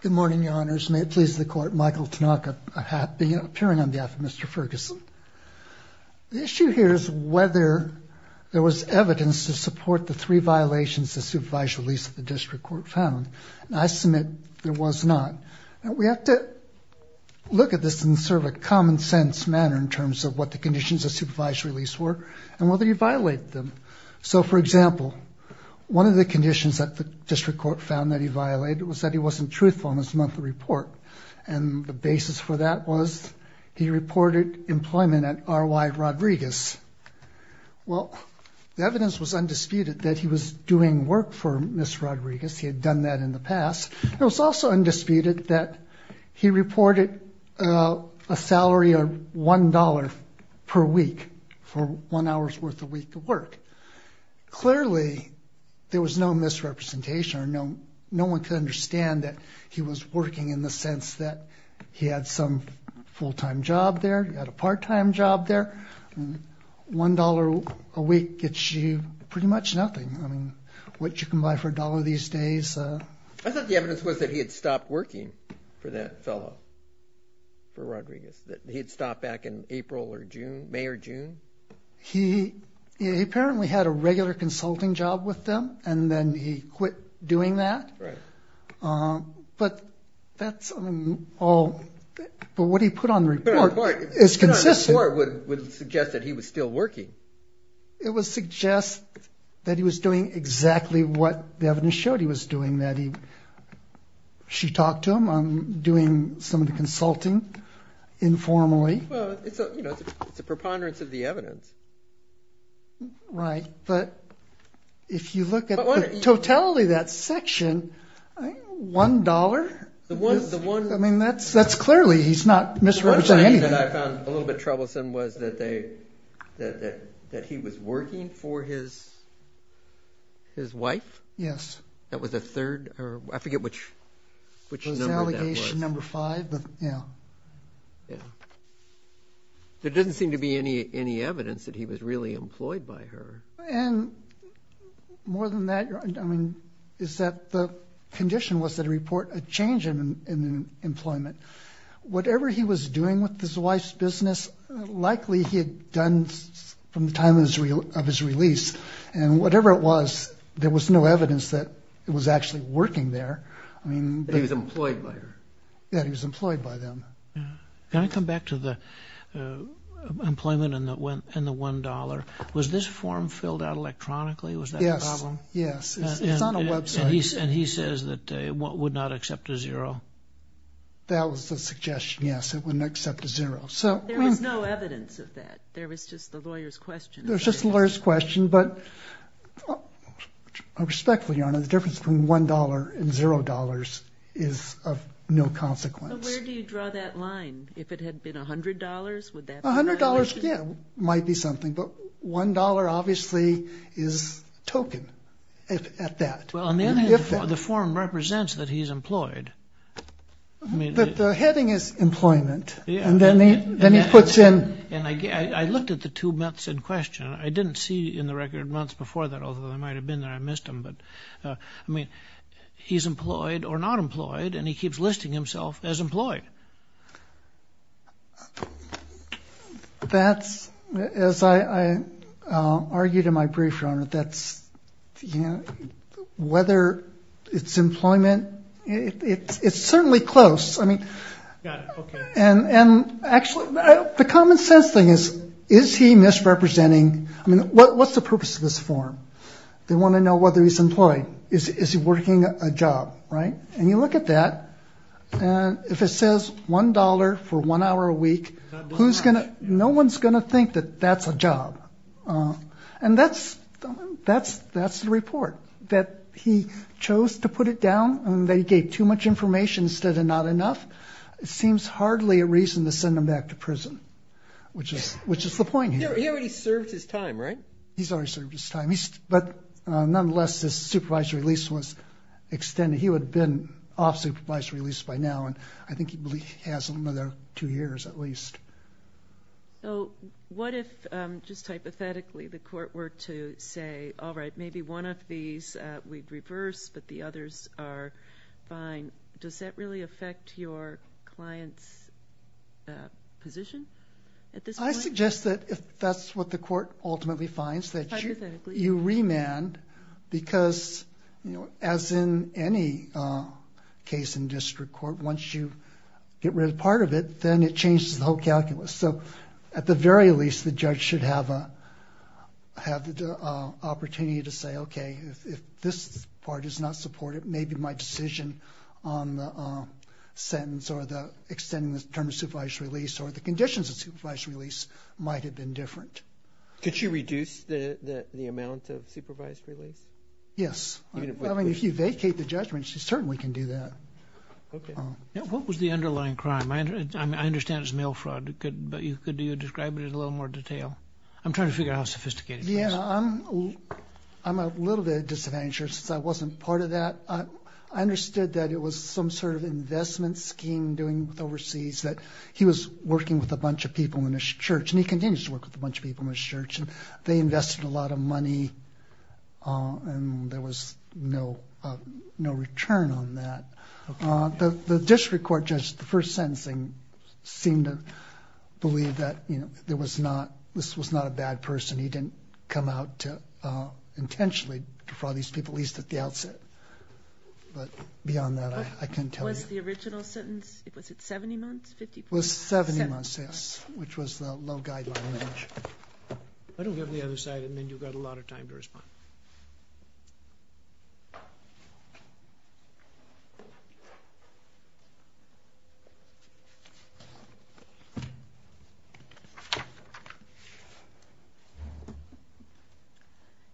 Good morning, your honors. May it please the court, Michael Tanaka, appearing on behalf of Mr. Ferguson. The issue here is whether there was evidence to support the three violations the supervised release of the district court found. And I submit there was not. We have to look at this in sort of a common sense manner in terms of what the conditions of supervised release were and whether he violated them. So, for example, one of the conditions that the district court found that he violated was that he wasn't truthful in his monthly report. And the basis for that was he reported employment at R.Y. Rodriguez. Well, the evidence was undisputed that he was doing work for Miss Rodriguez. He had done that in the past. It was also undisputed that he reported a salary of one dollar per week for one hour's worth a week of work. Clearly, there was no misrepresentation or no one could understand that he was working in the sense that he had some full time job there. He had a part time job there. One dollar a week gets you pretty much nothing. I mean, what you can buy for a dollar these days. I thought the evidence was that he had stopped working for that fellow. For Rodriguez, that he had stopped back in April or June, May or June. He apparently had a regular consulting job with them and then he quit doing that. Right. But that's all. But what he put on the report is consistent. The report would suggest that he was still working. It would suggest that he was doing exactly what the evidence showed he was doing. She talked to him on doing some of the consulting informally. It's a preponderance of the evidence. Right. But if you look at the totality of that section, one dollar. I mean, that's clearly he's not misrepresenting anything. One thing that I found a little bit troublesome was that he was working for his wife. Yes. That was the third or I forget which number that was. It was allegation number five. There doesn't seem to be any evidence that he was really employed by her. And more than that, I mean, is that the condition was to report a change in employment. Whatever he was doing with his wife's business, likely he had done from the time of his release. And whatever it was, there was no evidence that it was actually working there. He was employed by her. Yes, he was employed by them. Can I come back to the employment and the one dollar? Was this form filled out electronically? Yes. Was that the problem? Yes. It's on a website. And he says that he would not accept a zero. That was the suggestion, yes. It wouldn't accept a zero. There was no evidence of that. There was just the lawyer's question. There was just the lawyer's question. But respectfully, Your Honor, the difference between one dollar and zero dollars is of no consequence. But where do you draw that line? If it had been a hundred dollars, would that be an allegation? A hundred dollars, yeah, might be something. But one dollar obviously is a token at that. Well, on the other hand, the form represents that he's employed. But the heading is employment, and then he puts in— And I looked at the two months in question. I didn't see in the record months before that, although they might have been there. I missed them. But, I mean, he's employed or not employed, and he keeps listing himself as employed. That's—as I argued in my brief, Your Honor, that's—whether it's employment, it's certainly close. I mean— Got it. Okay. And actually, the common sense thing is, is he misrepresenting—I mean, what's the purpose of this form? They want to know whether he's employed. Is he working a job, right? And you look at that, and if it says one dollar for one hour a week, who's going to—no one's going to think that that's a job. And that's the report, that he chose to put it down and that he gave too much information instead of not enough. It seems hardly a reason to send him back to prison, which is the point here. He already served his time, right? He's already served his time. But nonetheless, his supervisory release was extended. He would have been off supervisory release by now, and I think he has another two years at least. So what if, just hypothetically, the court were to say, all right, maybe one of these we'd reverse, but the others are fine? Does that really affect your client's position at this point? I suggest that if that's what the court ultimately finds, that you— that you remand because, as in any case in district court, once you get rid of part of it, then it changes the whole calculus. So at the very least, the judge should have the opportunity to say, okay, if this part is not supported, maybe my decision on the sentence or the extending the term of supervisory release or the conditions of supervisory release might have been different. Could she reduce the amount of supervisory release? Yes. I mean, if you vacate the judgment, she certainly can do that. Okay. What was the underlying crime? I understand it's mail fraud, but could you describe it in a little more detail? I'm trying to figure out how sophisticated it is. Yeah, I'm a little bit disadvantaged because I wasn't part of that. I understood that it was some sort of investment scheme doing overseas, that he was working with a bunch of people in his church, and he continues to work with a bunch of people in his church, and they invested a lot of money and there was no return on that. The district court judge, the first sentencing, seemed to believe that, you know, there was not—this was not a bad person. He didn't come out to intentionally defraud these people, at least at the outset. But beyond that, I can't tell you. What was the original sentence? Was it 70 months? It was 70 months, yes, which was the low guideline age. Why don't we have the other side, and then you've got a lot of time to respond.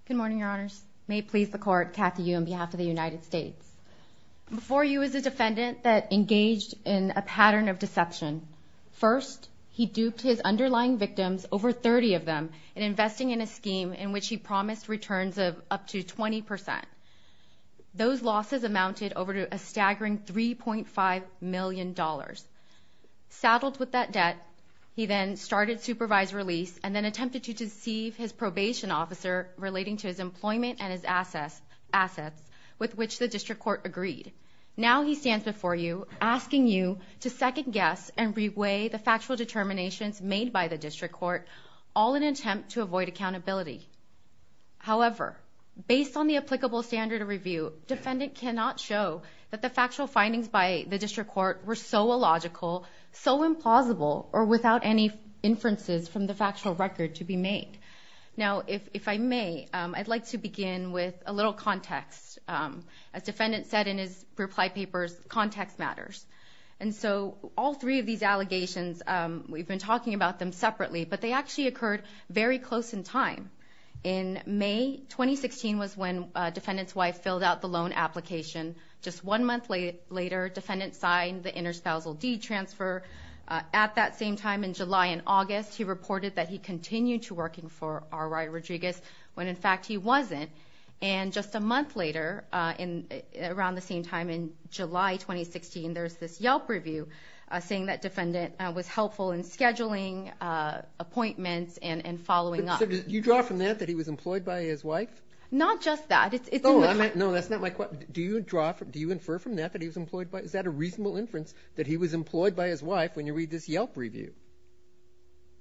Good morning, Your Honors. May it please the Court, Kathy Yu on behalf of the United States. Before Yu was a defendant that engaged in a pattern of deception. First, he duped his underlying victims, over 30 of them, in investing in a scheme in which he promised returns of up to 20%. Those losses amounted over a staggering $3.5 million. Saddled with that debt, he then started supervised release and then attempted to deceive his probation officer relating to his employment and his assets, with which the District Court agreed. Now he stands before you asking you to second-guess and re-weigh the factual determinations made by the District Court, all in an attempt to avoid accountability. However, based on the applicable standard of review, defendant cannot show that the factual findings by the District Court were so illogical, so implausible, or without any inferences from the factual record to be made. Now, if I may, I'd like to begin with a little context. As defendant said in his reply papers, context matters. And so, all three of these allegations, we've been talking about them separately, but they actually occurred very close in time. In May 2016 was when defendant's wife filled out the loan application. Just one month later, defendant signed the interspousal deed transfer. At that same time, in July and August, he reported that he continued to work for R. Ry Rodriguez, when in fact he wasn't. And just a month later, around the same time, in July 2016, there's this Yelp review saying that defendant was helpful in scheduling appointments and following up. So did you draw from that that he was employed by his wife? Not just that. No, that's not my question. Do you infer from that that he was employed by his wife? Is that a reasonable inference that he was employed by his wife when you read this Yelp review?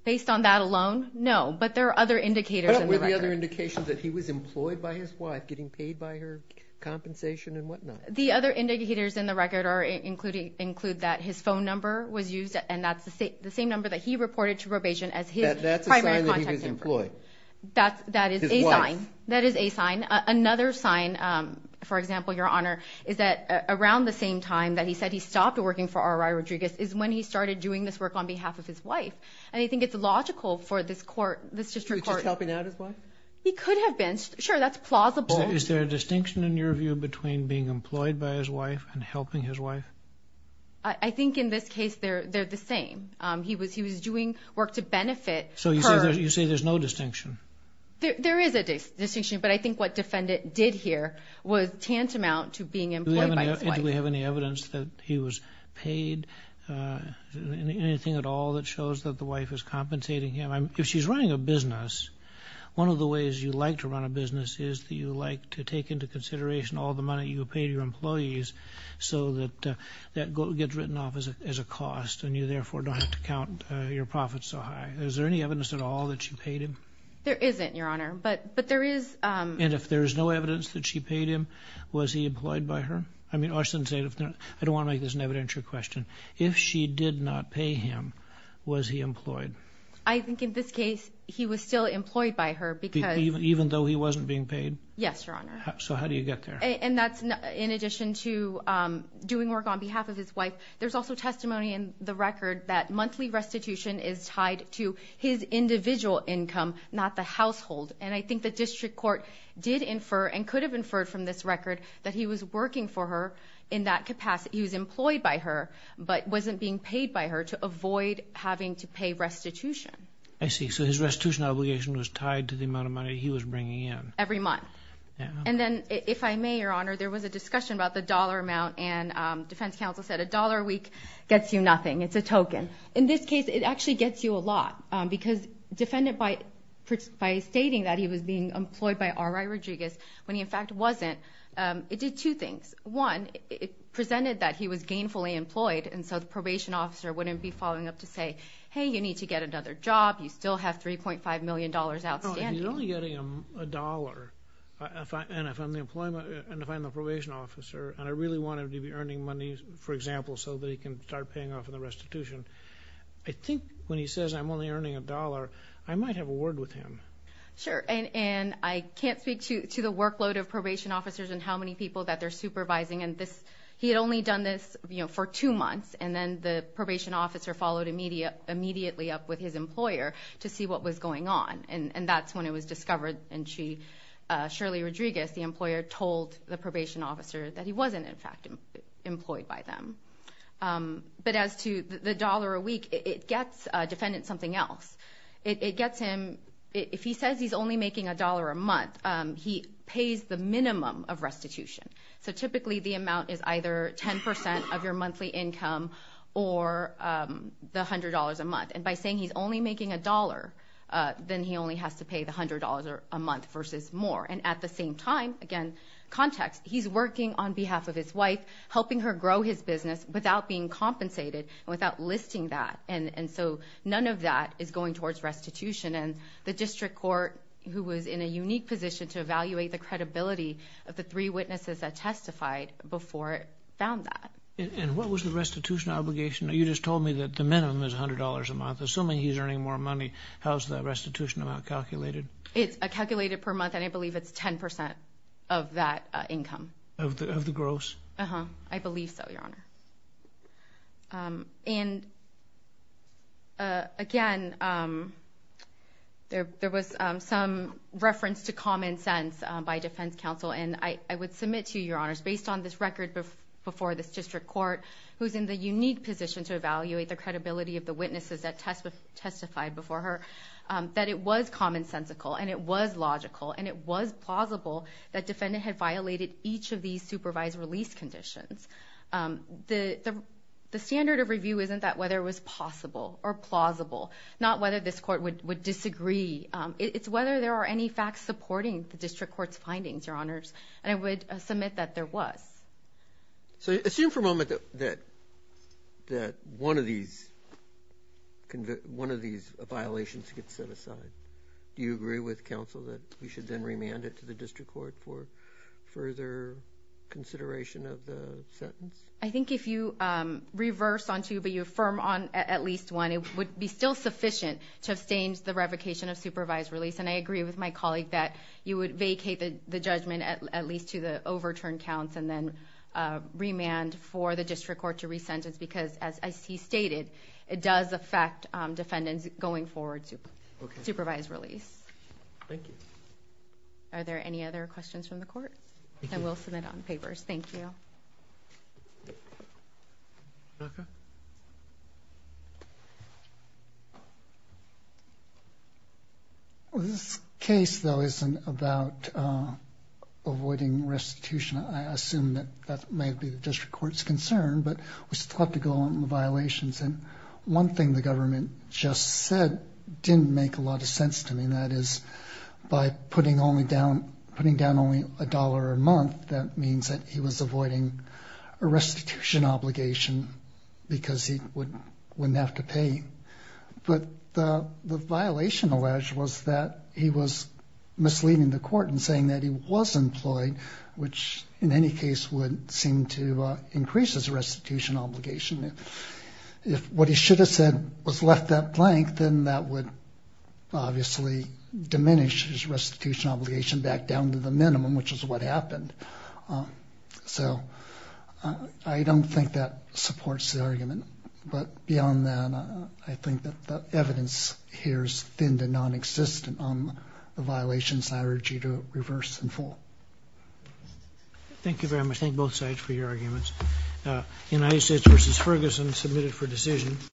Based on that alone, no. But there are other indicators in the record. What were the other indications that he was employed by his wife, getting paid by her, compensation and whatnot? The other indicators in the record include that his phone number was used, and that's the same number that he reported to probation as his primary contact number. That's a sign that he was employed. That is a sign. His wife. That is a sign. Another sign, for example, Your Honor, is that around the same time that he said he stopped working for R. Ry Rodriguez is when he started doing this work on behalf of his wife. And I think it's logical for this court, this district court. Was he just helping out his wife? He could have been. Sure, that's plausible. Is there a distinction in your view between being employed by his wife and helping his wife? I think in this case they're the same. He was doing work to benefit her. So you say there's no distinction? There is a distinction, but I think what defendant did here was tantamount to being employed by his wife. And do we have any evidence that he was paid? Anything at all that shows that the wife is compensating him? If she's running a business, one of the ways you like to run a business is that you like to take into consideration all the money you pay your employees so that that gets written off as a cost and you therefore don't have to count your profits so high. Is there any evidence at all that she paid him? There isn't, Your Honor, but there is. And if there's no evidence that she paid him, was he employed by her? I mean, I don't want to make this an evidentiary question. If she did not pay him, was he employed? I think in this case he was still employed by her. Even though he wasn't being paid? Yes, Your Honor. So how do you get there? In addition to doing work on behalf of his wife, there's also testimony in the record that monthly restitution is tied to his individual income, not the household. And I think the district court did infer and could have inferred from this record that he was working for her in that capacity. He was employed by her but wasn't being paid by her to avoid having to pay restitution. I see. So his restitution obligation was tied to the amount of money he was bringing in. Every month. And then, if I may, Your Honor, there was a discussion about the dollar amount, and defense counsel said a dollar a week gets you nothing. It's a token. In this case, it actually gets you a lot because defendant, by stating that he was being employed by R.I. Rodriguez when he, in fact, wasn't, it did two things. One, it presented that he was gainfully employed and so the probation officer wouldn't be following up to say, hey, you need to get another job, you still have $3.5 million outstanding. If he's only getting a dollar, and if I'm the probation officer and I really want him to be earning money, for example, so that he can start paying off the restitution, I think when he says I'm only earning a dollar, I might have a word with him. Sure, and I can't speak to the workload of probation officers and how many people that they're supervising, and he had only done this for two months, and then the probation officer followed immediately up with his employer to see what was going on, and that's when it was discovered, and Shirley Rodriguez, the employer, told the probation officer that he wasn't, in fact, employed by them. But as to the dollar a week, it gets defendant something else. It gets him, if he says he's only making a dollar a month, he pays the minimum of restitution. So typically the amount is either 10% of your monthly income or the $100 a month, and by saying he's only making a dollar, then he only has to pay the $100 a month versus more, and at the same time, again, context, he's working on behalf of his wife, helping her grow his business without being compensated, without listing that, and so none of that is going towards restitution, and the district court, who was in a unique position to evaluate the credibility of the three witnesses that testified before it found that. And what was the restitution obligation? You just told me that the minimum is $100 a month. Assuming he's earning more money, how is that restitution amount calculated? It's calculated per month, and I believe it's 10% of that income. Of the gross? I believe so, Your Honor. And again, there was some reference to common sense by defense counsel, and I would submit to you, Your Honors, based on this record before this district court, who's in the unique position to evaluate the credibility of the witnesses that testified before her, that it was commonsensical and it was logical and it was plausible that defendant had violated each of these supervised release conditions. The standard of review isn't that whether it was possible or plausible, not whether this court would disagree. It's whether there are any facts supporting the district court's findings, Your Honors, and I would submit that there was. So assume for a moment that one of these violations gets set aside. Do you agree with counsel that we should then remand it to the district court for further consideration of the sentence? I think if you reverse on two but you affirm on at least one, it would be still sufficient to abstain the revocation of supervised release, and I agree with my colleague that you would vacate the judgment at least to the overturned counts and then remand for the district court to resentence because, as he stated, it does affect defendants going forward to supervised release. Thank you. Are there any other questions from the court? Then we'll submit on papers. Thank you. This case, though, isn't about avoiding restitution. I assume that that may be the district court's concern, but we still have to go on the violations. And one thing the government just said didn't make a lot of sense to me, and that is by putting down only a dollar a month, that means that he was avoiding a restitution obligation because he wouldn't have to pay. But the violation alleged was that he was misleading the court in saying that he was employed, which in any case would seem to increase his restitution obligation. If what he should have said was left up blank, then that would obviously diminish his restitution obligation back down to the minimum, which is what happened. So I don't think that supports the argument. But beyond that, I think that the evidence here is thin to nonexistent on the violations, and so I urge you to reverse and fall. Thank you very much. Thank you both sides for your arguments. United States v. Ferguson submitted for decision.